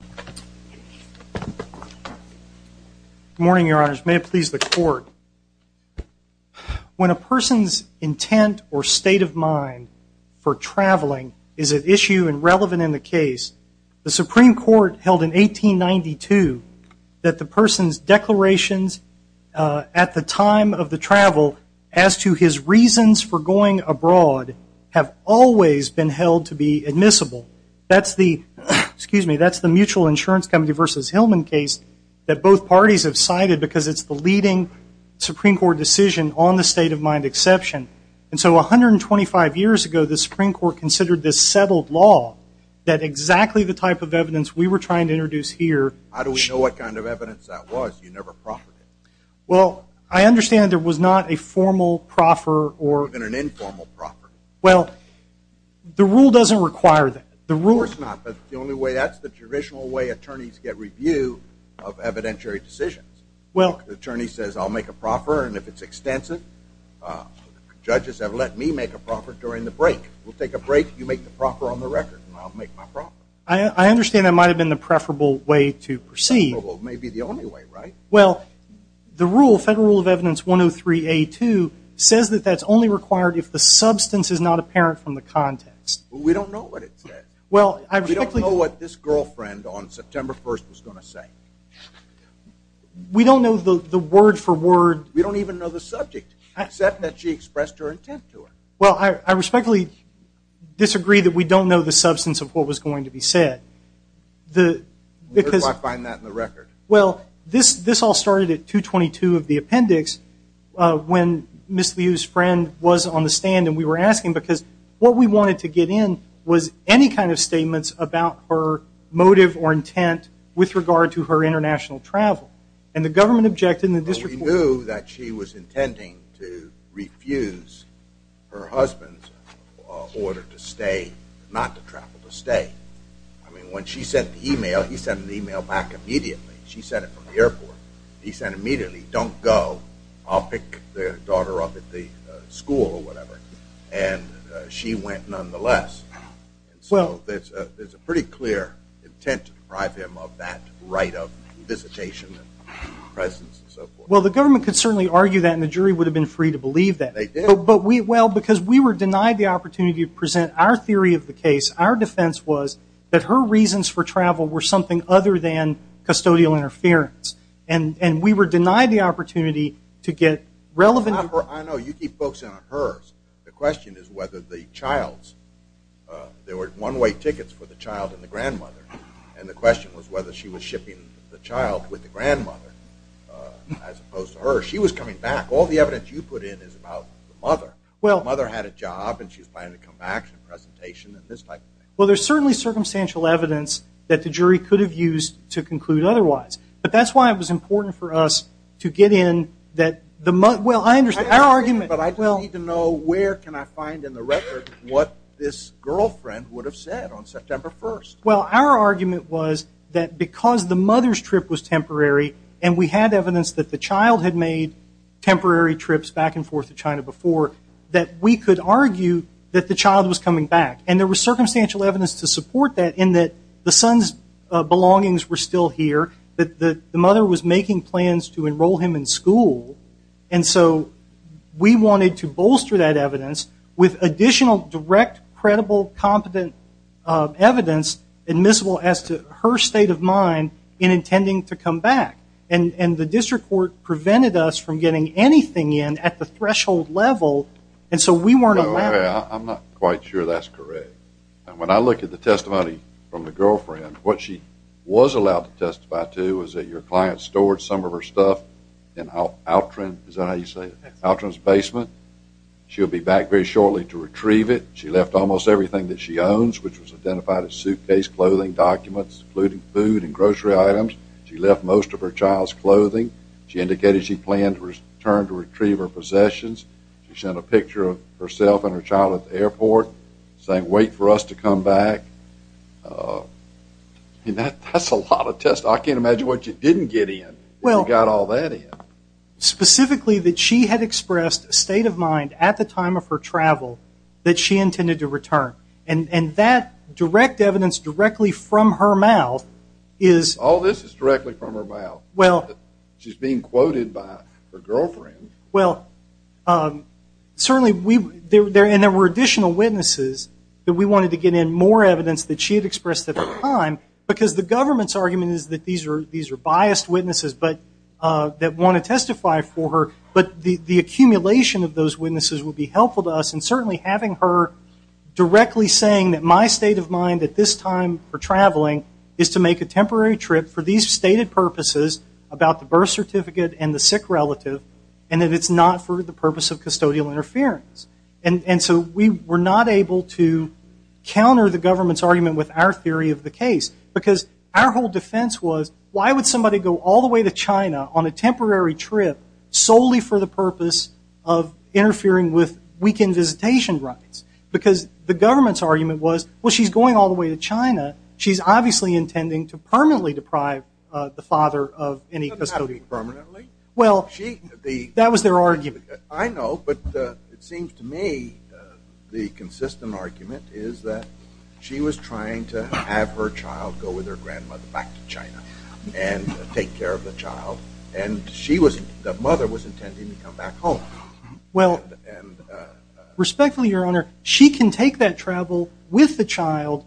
Good morning, your honors. May it please the court. When a person's intent or state of mind for traveling is at issue and relevant in the case, the Supreme Court held in 1892 that the person's declarations at the time of the travel as to his reasons for going abroad have always been held to be admissible. That's the Mutual Insurance Company v. Hillman case that both parties have cited because it's the leading Supreme Court decision on the state of mind exception. And so 125 years ago, the Supreme Court considered this settled law that exactly the type of evidence we were trying to introduce here- How do we know what kind of evidence that was? You never proffered it. Well, I understand there was not a formal proffer or- Well, the rule doesn't require that. The rule- Of course not, but the only way- that's the traditional way attorneys get review of evidentiary decisions. The attorney says, I'll make a proffer, and if it's extensive, judges have let me make a proffer during the break. We'll take a break, you make the proffer on the record, and I'll make my proffer. I understand that might have been the preferable way to proceed. Preferable may be the only way, right? Well, the rule, Federal Rule of Evidence 103A2, says that that's only required if the substance is not apparent from the context. We don't know what it said. We don't know what this girlfriend on September 1st was going to say. We don't know the word for word- We don't even know the subject, except that she expressed her intent to her. Well, I respectfully disagree that we don't know the substance of what was going to be said. Where do I find that in the record? Well, this all started at 222 of the appendix, when Ms. Liu's friend was on the stand, and we were asking, because what we wanted to get in was any kind of statements about her motive or intent with regard to her international travel. And the government objected, and the district court- Well, we knew that she was intending to refuse her husband's order to stay, not to travel to stay. I mean, when she sent the email, he sent the email back immediately. She sent it from the airport. He said immediately, don't go. I'll pick the daughter up at the school or whatever. And she went nonetheless. Well- And so there's a pretty clear intent to deprive him of that right of visitation and presence and so forth. Well, the government could certainly argue that, and the jury would have been free to believe that. They did. Well, because we were denied the opportunity to present our theory of the case, our defense was that her reasons for travel were something other than custodial interference. And we were denied the opportunity to get relevant- I know. You keep focusing on hers. The question is whether the child's- there were one-way tickets for the child and the grandmother. And the question was whether she was shipping the child with the grandmother as opposed to her. She was coming back. All the evidence you put in is about the mother. Well- The mother had a job, and she was planning to come back for a presentation and this type of thing. Well, there's certainly circumstantial evidence that the jury could have used to conclude otherwise. But that's why it was important for us to get in that the mother- well, I understand. Our argument- But I do need to know where can I find in the record what this girlfriend would have said on September 1st. Well, our argument was that because the mother's trip was temporary, and we had evidence that the child had made temporary trips back and forth to China before, that we could argue that the child was coming back. And there was circumstantial evidence to support that in that the son's belongings were still here, that the mother was making plans to enroll him in school. And so we wanted to bolster that evidence with additional direct, credible, competent evidence admissible as to her state of mind in intending to come back. And the district court prevented us from getting anything in at the threshold level, and so we weren't able to do that. I'm not quite sure that's correct. And when I look at the testimony from the girlfriend, what she was allowed to testify to was that your client stored some of her stuff in Altron's basement. She'll be back very shortly to retrieve it. She left almost everything that she owns, which was identified as suitcase, clothing, documents, including food and grocery items. She left most of her child's clothing. She indicated she planned to return to retrieve her possessions. She sent a picture of herself and her child at the airport, saying, wait for us to come back. And that's a lot of testimony. I can't imagine what you didn't get in, if you got all that in. Specifically that she had expressed a state of mind at the time of her travel that she intended to return. And that direct evidence directly from her mouth is... All this is directly from her mouth. She's being quoted by her girlfriend. Well, certainly we... And there were additional witnesses that we wanted to get in more evidence that she had expressed at the time. Because the government's argument is that these are biased witnesses that want to testify for her. But the accumulation of those witnesses would be helpful to us. And certainly having her directly saying that my state of mind at this time for traveling is to make a temporary trip for these stated purposes about the birth and that it's not for the purpose of custodial interference. And so we were not able to counter the government's argument with our theory of the case. Because our whole defense was, why would somebody go all the way to China on a temporary trip solely for the purpose of interfering with weekend visitation rights? Because the government's argument was, well, she's going all the way to China. She's obviously intending to permanently deprive the father of any custodial property. Well, that was their argument. I know, but it seems to me the consistent argument is that she was trying to have her child go with her grandmother back to China and take care of the child. And she was, the mother was intending to come back home. Well, respectfully, Your Honor, she can take that travel with the child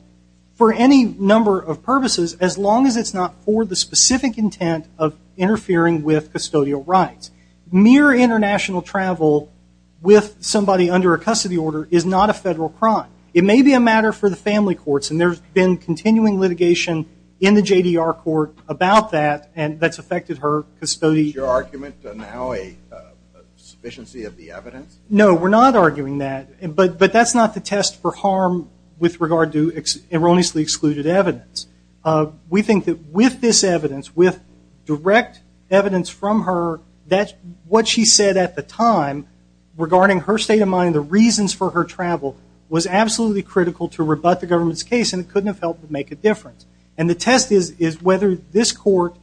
for any number of purposes, as long as it's not for the specific intent of interfering with custodial rights. Mere international travel with somebody under a custody order is not a federal crime. It may be a matter for the family courts, and there's been continuing litigation in the JDR court about that that's affected her custodial rights. Is your argument now a sufficiency of the evidence? No, we're not arguing that. But that's not the test for harm with regard to erroneously excluded evidence. We think that with this evidence, with direct evidence from her, what she said at the time regarding her state of mind, the reasons for her travel, was absolutely critical to rebut the government's case, and it couldn't have helped to make a difference. And the test is whether this court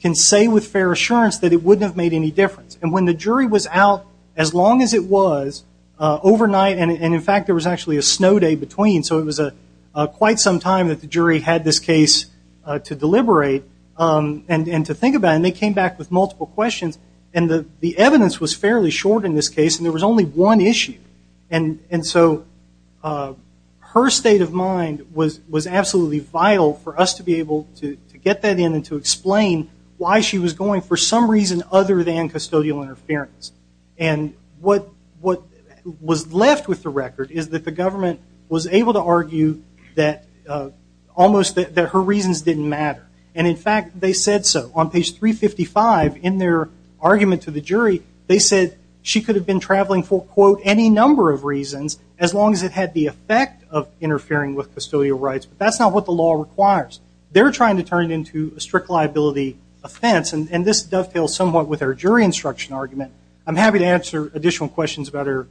can say with fair assurance that it wouldn't have made any difference. And when the jury was out, as long as it was, overnight, and in fact there was actually a snow day between, so it was quite some time that the jury had this case to deliberate and to think about, and they came back with multiple questions, and the evidence was fairly short in this case, and there was only one issue. And so her state of mind was absolutely vital for us to be able to get that in and to explain why she was going for some reason other than custodial interference. And what was left with the record is that the government was able to argue that almost that her reasons didn't matter. And in fact, they said so. On page 355 in their argument to the jury, they said she could have been traveling for, quote, any number of reasons as long as it had the effect of interfering with custodial rights. But that's not what the law requires. They're trying to turn it into a strict liability offense. And this dovetails somewhat with our jury instruction argument. I'm happy to answer additional questions about her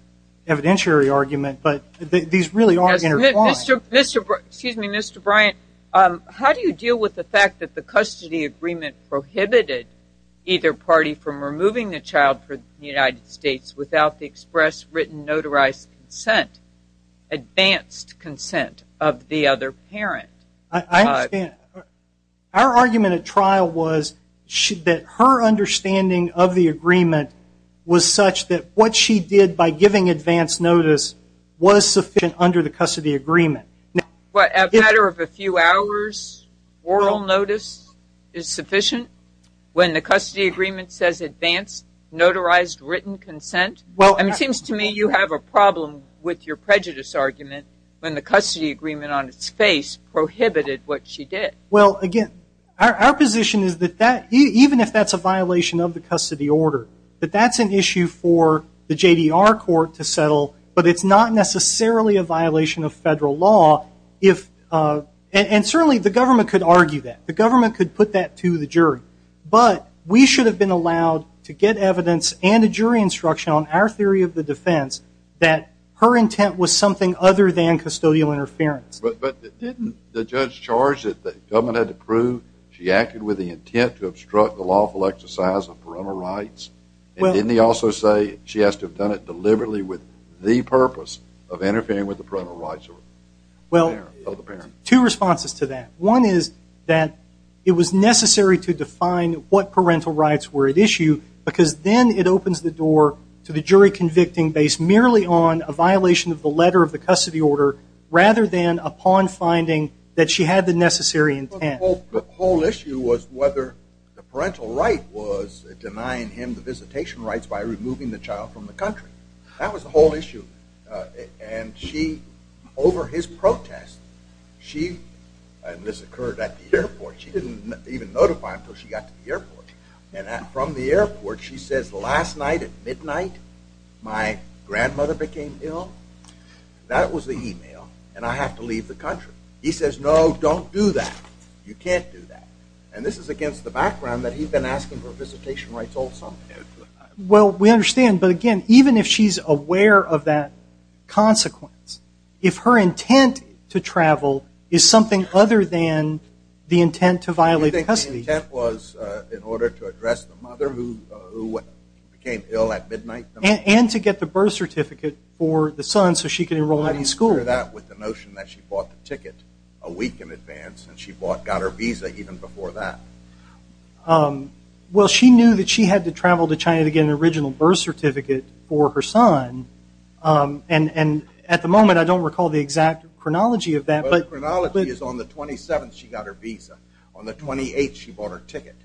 evidentiary argument, but these really are intertwined. Excuse me, Mr. Bryant, how do you deal with the fact that the custody agreement prohibited either party from removing the child from the United States without the express written notarized consent, advanced consent of the other parent? I understand. Our argument at trial was that her understanding of the agreement was such that what she did by giving advance notice was sufficient under the custody agreement. What, a matter of a few hours oral notice is sufficient when the custody agreement says advanced notarized written consent? Well, it seems to me you have a problem with your Well, again, our position is that even if that's a violation of the custody order, that that's an issue for the JDR court to settle, but it's not necessarily a violation of federal law if, and certainly the government could argue that. The government could put that to the jury. But we should have been allowed to get evidence and a jury instruction on our theory of the defense that her intent was something other than custodial interference. But didn't the judge charge that the government had to prove she acted with the intent to obstruct the lawful exercise of parental rights? And didn't he also say she has to have done it deliberately with the purpose of interfering with the parental rights of the parent? Two responses to that. One is that it was necessary to define what parental rights were at issue because then it opens the door to the jury convicting based merely on a violation of the letter of the custody order rather than upon finding that she had the necessary intent. The whole issue was whether the parental right was denying him the visitation rights by removing the child from the country. That was the whole issue. And she, over his protest, she, and this occurred at the airport, she didn't even notify him until she got to the airport. And from the airport, she says, last night at midnight, my grandmother became ill. That was the email. And I have to leave the country. He says, no, don't do that. You can't do that. And this is against the background that he's been asking for visitation rights all summer. Well, we understand. But again, even if she's aware of that consequence, if her intent to travel is something other than the intent to violate custody. You think the intent was in order to address the mother who became ill at midnight? And to get the birth certificate for the son so she could enroll him in school. How do you share that with the notion that she bought the ticket a week in advance and she got her visa even before that? Well, she knew that she had to travel to China to get an original birth certificate for her son. And at the moment, I don't recall the exact chronology of that. The chronology is on the 27th, she got her visa. On the 28th, she bought her ticket.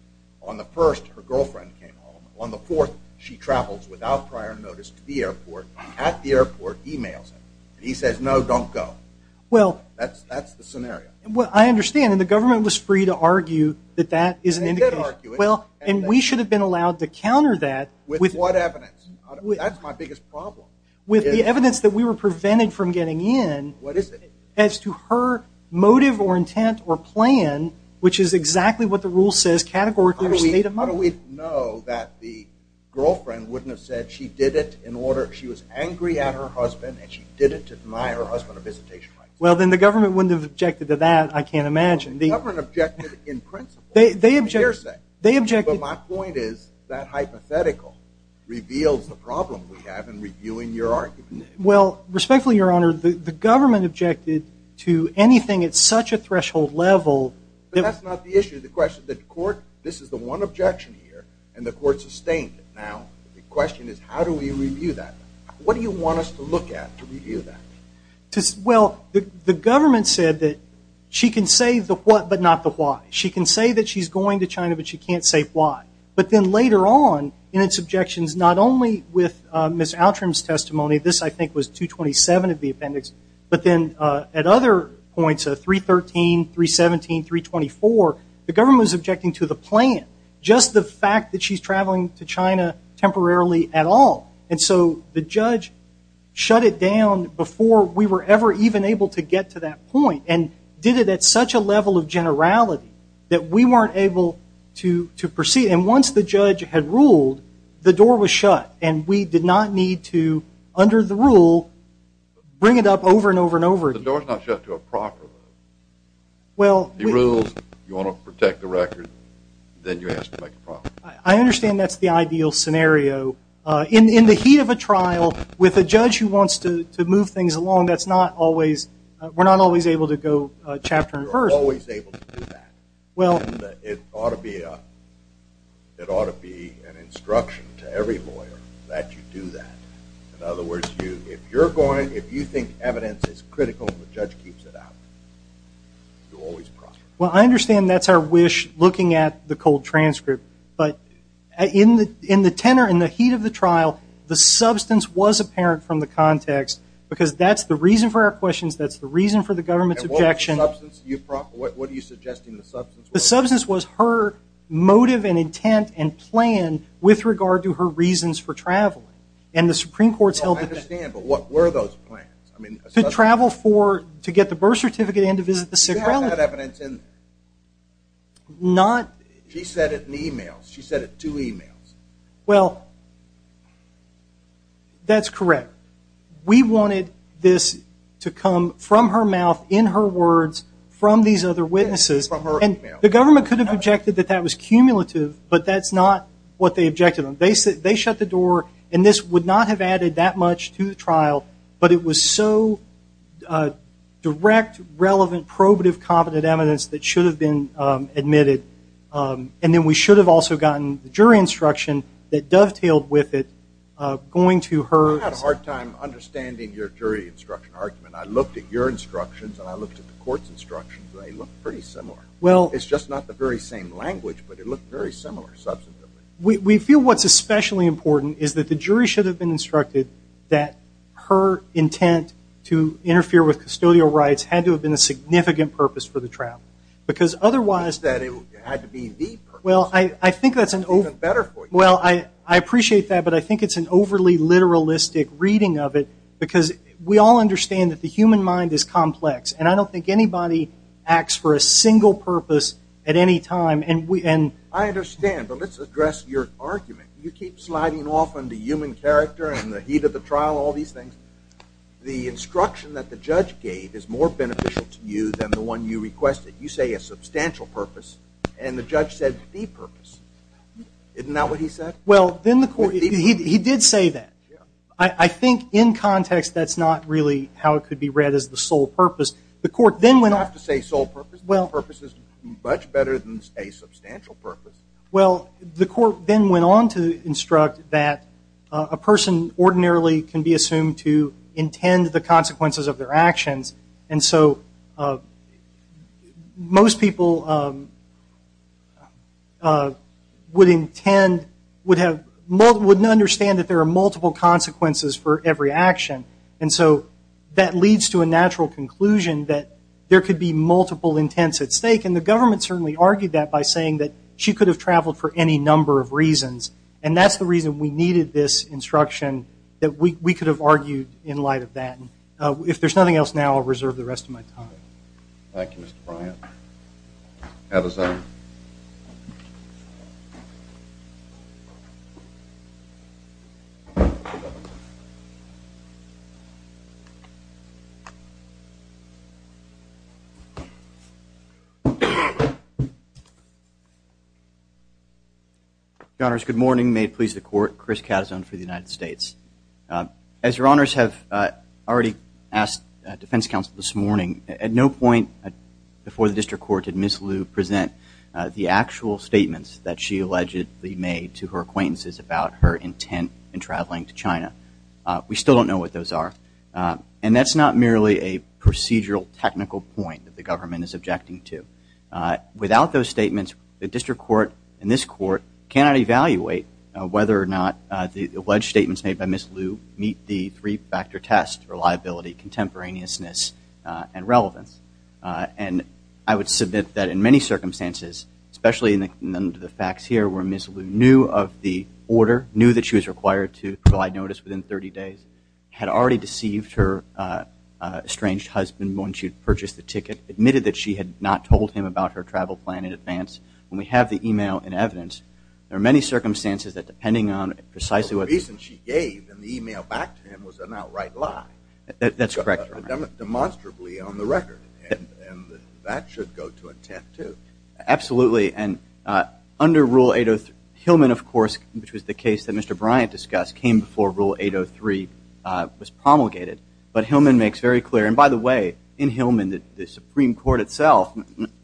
On the 1st, her girlfriend came home. On the 4th, she travels without prior notice to the airport. At the airport, emails him. He says, no, don't go. That's the scenario. Well, I understand. And the government was free to argue that that is an indication. They did argue it. And we should have been allowed to counter that. With what evidence? That's my biggest problem. With the evidence that we were prevented from getting in. What is it? As to her motive or intent or plan, which is exactly what the rule says, categorically her state of mind. How do we know that the girlfriend wouldn't have said she did it in order, she was angry at her husband and she didn't admire her husband or visitation rights? Well, then the government wouldn't have objected to that, I can't imagine. The government objected in principle. They objected. But my point is that hypothetical reveals the problem we have in reviewing your argument. Well, respectfully, Your Honor, the government objected to anything at such a threshold level. But that's not the issue. The question, the court, this is the one objection here and the court sustained it. Now, the question is how do we review that? What do you want us to look at to review that? Well, the government said that she can say the what but not the why. She can say that she's going to China but she can't say why. But then later on in its objections, not only with Ms. Outram's testimony, this I think was 227 of the appendix, but then at other points, 313, 317, 324, the government was objecting to the plan, just the fact that she's traveling to China temporarily at all. And so the judge shut it down before we were ever even able to get to that point and did it at such a level of generality that we weren't able to proceed. And once the judge had ruled, the door was shut and we did not need to, under the rule, bring it up over and over and over again. The door's not shut to a proper level. He rules, you want to protect the record, then you have to make a trial. I understand that's the ideal scenario. In the heat of a trial with a judge who wants to move things along, we're not always able to go chapter and verse. We're always able to do that. And it ought to be an instruction to every lawyer that you do that. In other words, if you think evidence is critical and the judge keeps it out, you'll always prosper. Well, I understand that's our wish, looking at the cold transcript. But in the tenor, in the heat of the trial, the substance was apparent from the context because that's the reason for our questions, that's the reason for the government's objection. What are you suggesting the substance was? The substance was her motive and intent and plan with regard to her reasons for traveling. And the Supreme Court's held that. I understand, but what were those plans? To travel for, to get the birth certificate and to visit the sick relative. She had that evidence in. Not. She said it in e-mails. She said it in two e-mails. Well, that's correct. We wanted this to come from her mouth, in her words, from these other witnesses. And the government could have objected that that was cumulative, but that's not what they objected on. They shut the door, and this would not have added that much to the trial, but it was so direct, relevant, probative, competent evidence that should have been admitted. And then we should have also gotten the jury instruction that dovetailed with it going to her. I had a hard time understanding your jury instruction argument. I looked at your instructions, and I looked at the court's instructions, and they look pretty similar. Well. It's just not the very same language, but it looked very similar, substantively. We feel what's especially important is that the jury should have been instructed that her intent to interfere with custodial rights had to have been a significant purpose for the trial. Because otherwise. You said it had to be the purpose. Well, I think that's an. Even better for you. Well, I appreciate that, but I think it's an overly literalistic reading of it because we all understand that the human mind is complex, and I don't think anybody acts for a single purpose at any time. I understand, but let's address your argument. You keep sliding off on the human character and the heat of the trial, all these things. The instruction that the judge gave is more beneficial to you than the one you requested. You say a substantial purpose, and the judge said the purpose. Isn't that what he said? Well, he did say that. I think in context that's not really how it could be read as the sole purpose. You don't have to say sole purpose. The purpose is much better than a substantial purpose. Well, the court then went on to instruct that a person ordinarily can be assumed to intend the consequences of their actions, and so most people wouldn't understand that there are multiple consequences for every action, and so that leads to a natural conclusion that there could be multiple intents at stake, and the government certainly argued that by saying that she could have traveled for any number of reasons, and that's the reason we needed this instruction, that we could have argued in light of that. If there's nothing else now, I'll reserve the rest of my time. Thank you, Mr. Bryant. Have a seat. Your Honors, good morning. May it please the Court. Chris Cazone for the United States. As Your Honors have already asked defense counsel this morning, at no point before the district court did Ms. Liu present the actual statements that she allegedly made to her acquaintances about her intent in traveling to China. We still don't know what those are, and that's not merely a procedural technical point that the government is objecting to. Without those statements, the district court and this court cannot evaluate whether or not the alleged statements made by Ms. Liu meet the three-factor test for liability, contemporaneousness, and relevance. And I would submit that in many circumstances, especially in the facts here where Ms. Liu knew of the order, knew that she was required to provide notice within 30 days, had already deceived her estranged husband when she purchased the ticket, admitted that she had not told him about her travel plan in advance. When we have the email and evidence, there are many circumstances that depending on precisely what... The reason she gave in the email back to him was an outright lie. That's correct. Demonstrably on the record. And that should go to intent too. Absolutely. And under Rule 803, Hillman of course, which was the case that Mr. Bryant discussed, came before Rule 803 was promulgated. But Hillman makes very clear, and by the way, in Hillman the Supreme Court itself,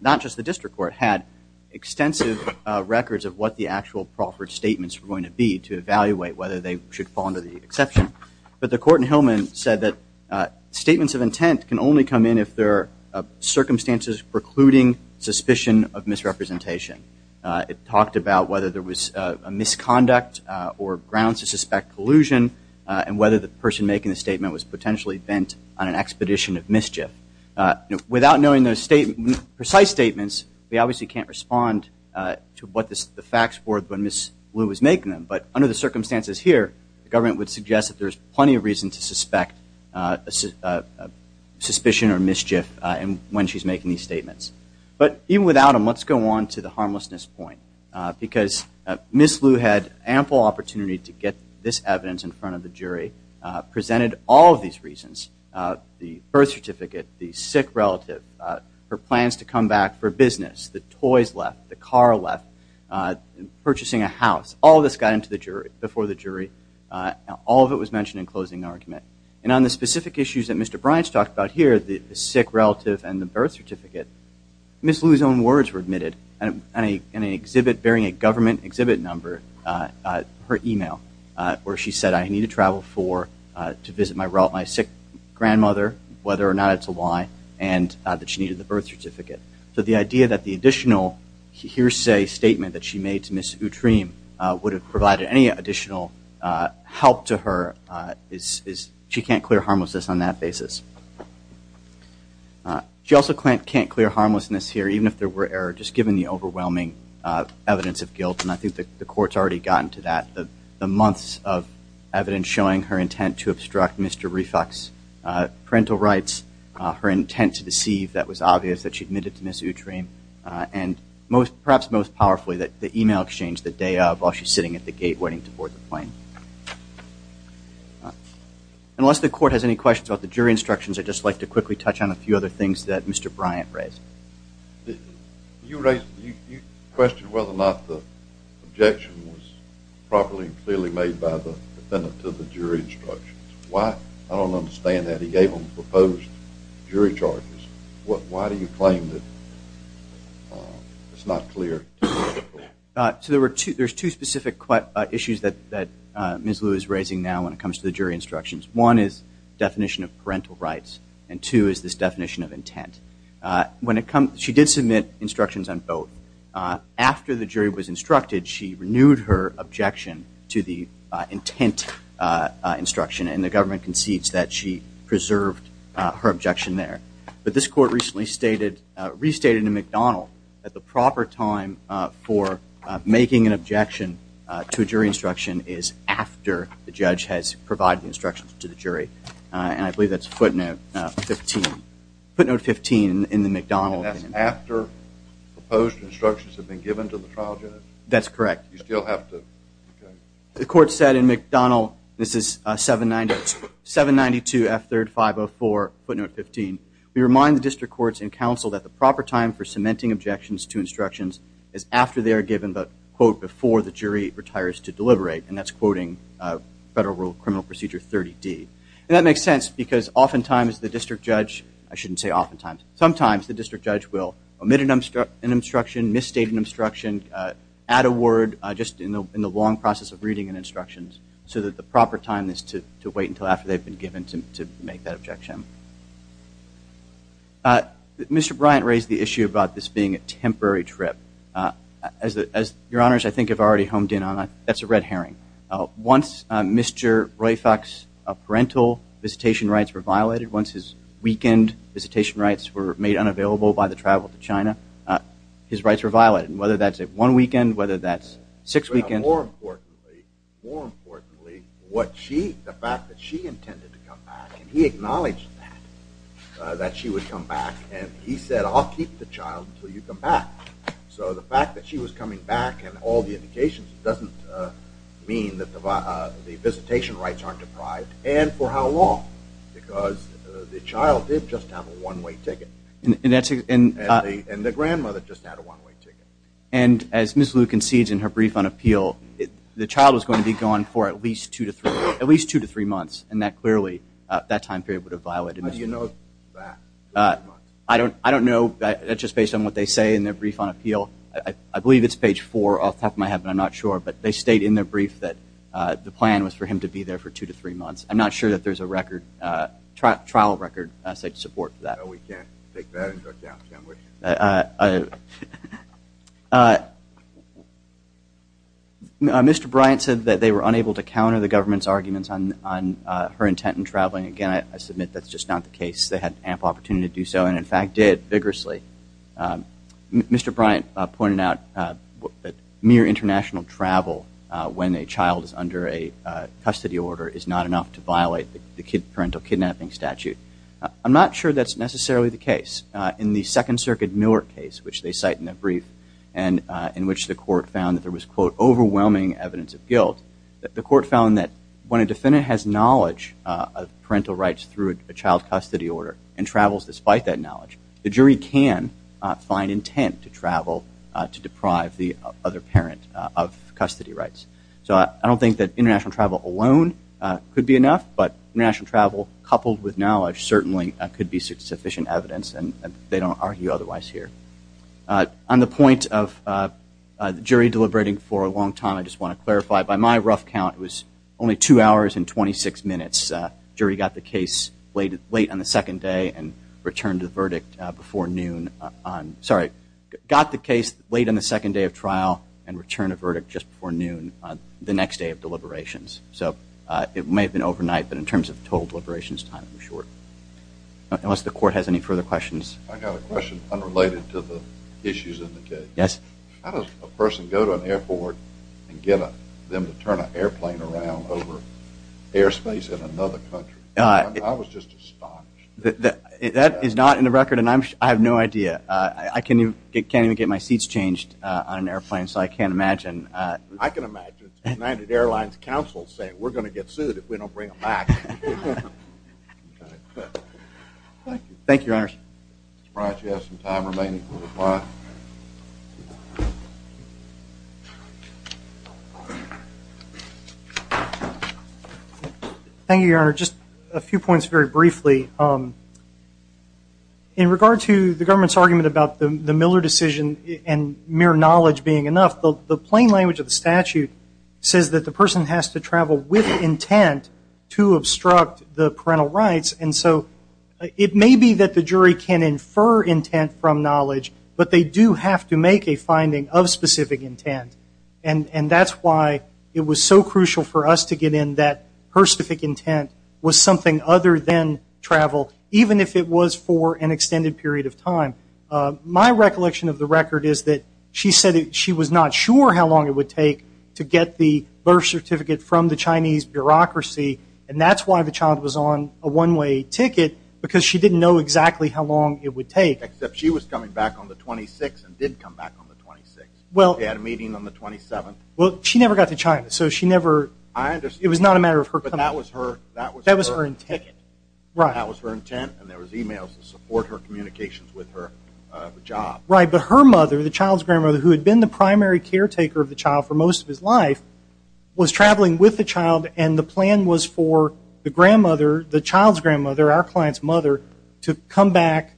not just the district court, had extensive records of what the actual proffered statements were going to be to evaluate whether they should fall under the exception. But the court in Hillman said that statements of intent can only come in if there are circumstances precluding suspicion of misrepresentation. It talked about whether there was a misconduct or grounds to suspect collusion and whether the person making the statement was potentially bent on an expedition of mischief. Without knowing those precise statements, we obviously can't respond to what the facts were when Ms. Liu was making them. But under the circumstances here, the government would suggest that there's plenty of reason to suspect suspicion or mischief when she's making these statements. But even without them, let's go on to the harmlessness point. Because Ms. Liu had ample opportunity to get this evidence in front of the jury, presented all of these reasons, the birth certificate, the sick relative, her plans to come back for business, the toys left, the car left, purchasing a house. All of this got in front of the jury. All of it was mentioned in closing argument. And on the specific issues that Mr. Bryant talked about here, the sick relative and the birth certificate, Ms. Liu's own words were admitted in an exhibit bearing a government exhibit number, her email, where she said, I need to travel to visit my sick grandmother, whether or not it's a lie, and that she needed the birth certificate. So the idea that the additional hearsay statement that she made to Ms. Utrim would have provided any additional help to her, she can't clear harmlessness on that basis. She also can't clear harmlessness here, even if there were error, just given the overwhelming evidence of guilt. And I think the court's already gotten to that. The months of evidence showing her intent to obstruct Mr. Refock's parental rights, her intent to deceive, that was obvious, that she admitted to Ms. Utrim, and perhaps most powerfully, the email exchange the day of, while she's sitting at the gate waiting to board the plane. Unless the court has any questions about the jury instructions, I'd just like to quickly touch on a few other things that Mr. Bryant raised. You raised, you questioned whether or not the objection was properly and clearly made by the defendant to the jury instructions. Why? I don't understand that. He gave them proposed jury charges. Why do you claim that it's not clear? So there's two specific issues that Ms. Liu is raising now when it comes to the jury instructions. One is the definition of parental rights, and two is this definition of intent. She did submit instructions on both. After the jury was instructed, she renewed her objection to the intent instruction, and the government concedes that she preserved her objection there. But this court recently restated in McDonnell that the proper time for making an objection to a jury instruction is after the judge has provided instructions to the jury. And I believe that's footnote 15. Footnote 15 in the McDonnell. And that's after proposed instructions have been given to the trial judge? That's correct. You still have to... The court said in McDonnell, this is 792 F3rd 504, footnote 15, we remind the district courts and counsel that the proper time for cementing objections to instructions is after they are given the quote before the jury retires to deliberate, and that's quoting Federal Rule of Criminal Procedure 30D. And that makes sense because oftentimes the district judge, I shouldn't say oftentimes, sometimes the district judge will omit an instruction, misstate an instruction, add a word just in the long process of reading an instruction so that the proper time is to wait until after they've been given to make that objection. Mr. Bryant raised the issue about this being a temporary trip. Your Honors, I think I've already honed in on that. That's a red herring. Once Mr. Roifock's parental visitation rights were violated, once his weekend visitation rights were made unavailable by the travel to China, his rights were violated. Whether that's one weekend, whether that's six weekends. More importantly, what she, the fact that she intended to come back, and he acknowledged that, that she would come back, and he said I'll keep the child until you come back. So the fact that she was coming back and all the indications doesn't mean that the visitation rights aren't deprived, and for how long? Because the child did just have a one-way ticket. And the grandmother just had a one-way ticket. And as Ms. Liu concedes in her brief on appeal, the child was going to be gone for at least two to three months, and that clearly, that time period would have violated it. How do you know that? I don't know. That's just based on what they say in their brief on appeal. I believe it's page four off the top of my head, but I'm not sure. But they state in their brief that the plan was for him to be there for two to three months. I'm not sure that there's a record, trial record, to support that. No, we can't take that into account, can we? Mr. Bryant said that they were unable to counter the government's arguments on her intent in traveling. Again, I submit that's just not the case. They had ample opportunity to do so and, in fact, did vigorously. Mr. Bryant pointed out that mere international travel when a child is under a custody order is not enough to violate the parental kidnapping statute. I'm not sure that's necessarily the case. In the Second Circuit Miller case, which they cite in their brief and in which the court found that there was, quote, overwhelming evidence of guilt, the court found that when a defendant has knowledge of parental rights through a child custody order and travels despite that knowledge, the jury can find intent to travel to deprive the other parent of custody rights. So I don't think that international travel alone could be enough, but international travel coupled with knowledge certainly could be sufficient evidence, and they don't argue otherwise here. On the point of the jury deliberating for a long time, I just want to clarify, by my rough count, it was only two hours and 26 minutes. The jury got the case late on the second day and returned the verdict before noon. Sorry, got the case late on the second day of trial and returned a verdict just before noon the next day of deliberations. So it may have been overnight, but in terms of total deliberations time, I'm sure. Unless the court has any further questions. I've got a question unrelated to the issues in the case. Yes. How does a person go to an airport and get them to turn an airplane around over airspace in another country? I was just astonished. That is not in the record, and I have no idea. I can't even get my seats changed on an airplane, so I can't imagine. I can imagine. It's the United Airlines Council saying, we're going to get sued if we don't bring them back. Thank you, Your Honor. I'm surprised you have some time remaining to reply. Thank you, Your Honor. Just a few points very briefly. In regard to the government's argument about the Miller decision and mere knowledge being enough, the plain language of the statute says that the person has to travel with intent to obstruct the parental rights. And so it may be that the jury can infer intent from knowledge, but they do have to make a finding of specific intent. And that's why it was so crucial for us to get in that her specific intent was something other than travel, even if it was for an extended period of time. My recollection of the record is that she said she was not sure how long it would take to get the birth certificate from the Chinese bureaucracy, and that's why the child was on a one-way ticket, because she didn't know exactly how long it would take. Except she was coming back on the 26th and did come back on the 26th. She had a meeting on the 27th. Well, she never got to China, so she never – I understand. It was not a matter of her coming back. But that was her intent. Right. That was her intent, and there was e-mails to support her communications with her job. Right. But her mother, the child's grandmother, who had been the primary caretaker of the child for most of his life, was traveling with the child, and the plan was for the grandmother, the child's grandmother, our client's mother, to come back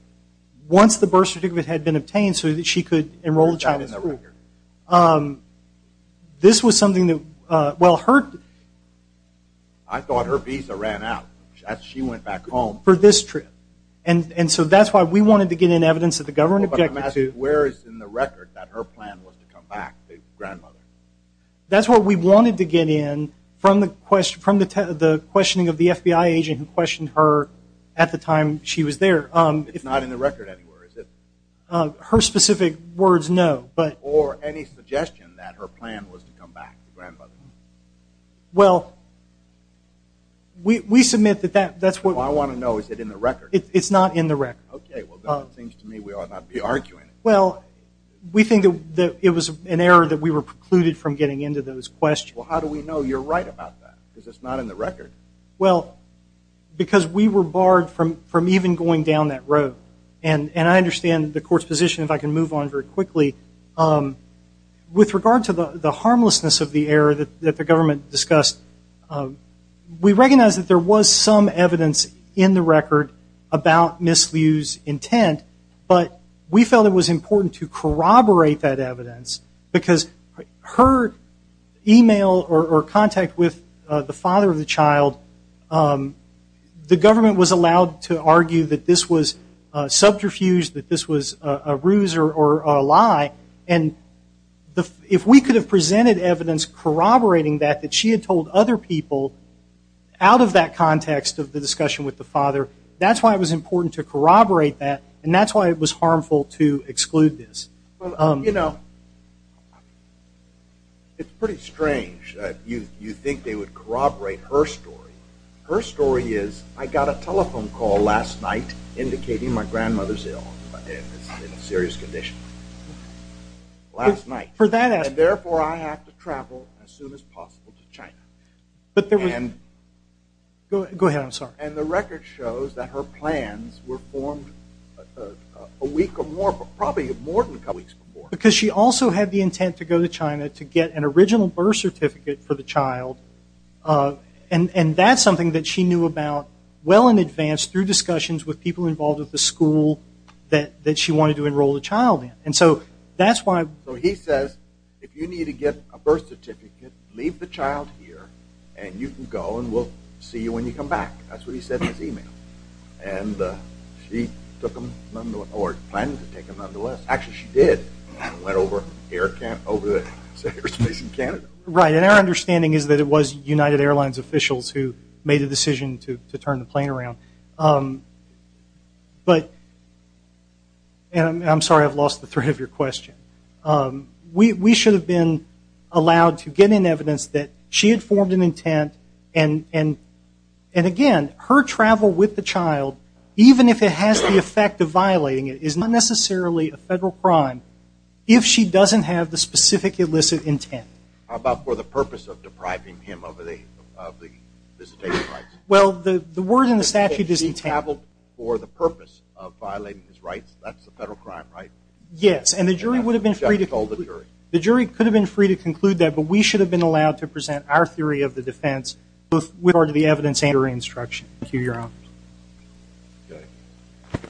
once the birth certificate had been obtained so that she could enroll the child in the school. This was something that – well, her – I thought her visa ran out as she went back home. For this trip. And so that's why we wanted to get in evidence that the government objected to – Well, but I'm asking, where is in the record that her plan was to come back, the grandmother? That's what we wanted to get in from the questioning of the FBI agent who questioned her at the time she was there. It's not in the record anywhere, is it? Her specific words, no. Or any suggestion that her plan was to come back, the grandmother. Well, we submit that that's what – Well, I want to know, is it in the record? It's not in the record. Okay. Well, then it seems to me we ought not be arguing it. Well, we think that it was an error that we were precluded from getting into those questions. Well, how do we know you're right about that? Because it's not in the record. Well, because we were barred from even going down that road. And I understand the court's position, if I can move on very quickly. With regard to the harmlessness of the error that the government discussed, we recognize that there was some evidence in the record about Ms. Liu's intent, but we felt it was important to corroborate that evidence because her email or contact with the father of the child, the government was allowed to argue that this was subterfuge, that this was a ruse or a lie. And if we could have presented evidence corroborating that, that she had told other people out of that context of the discussion with the father, that's why it was important to corroborate that, and that's why it was harmful to exclude this. Well, you know, it's pretty strange. You'd think they would corroborate her story. Her story is, I got a telephone call last night indicating my grandmother's ill, in a serious condition, last night. And therefore, I have to travel as soon as possible to China. Go ahead. I'm sorry. And the record shows that her plans were formed a week or more, probably more than a couple of weeks before. Because she also had the intent to go to China to get an original birth certificate for the child, and that's something that she knew about well in advance through discussions with people involved with the school that she wanted to enroll the child in. And so that's why— So he says, if you need to get a birth certificate, leave the child here, and you can go, and we'll see you when you come back. That's what he said in his email. And she took him nonetheless, or planned to take him nonetheless. Actually, she did. Went over the airspace in Canada. Right. And our understanding is that it was United Airlines officials who made the decision to turn the plane around. But—and I'm sorry, I've lost the thread of your question. We should have been allowed to get in evidence that she had formed an intent, and again, her travel with the child, even if it has the effect of violating it, is not necessarily a federal crime if she doesn't have the specific illicit intent. How about for the purpose of depriving him of the visitation rights? Well, the word in the statute is intent. She traveled for the purpose of violating his rights. That's a federal crime, right? Yes, and the jury would have been free to— The judge told the jury. The jury could have been free to conclude that, but we should have been allowed to present our theory of the defense with regard to the evidence and her instruction. Thank you, Your Honors. Okay.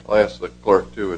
I'll ask the clerk to adjourn.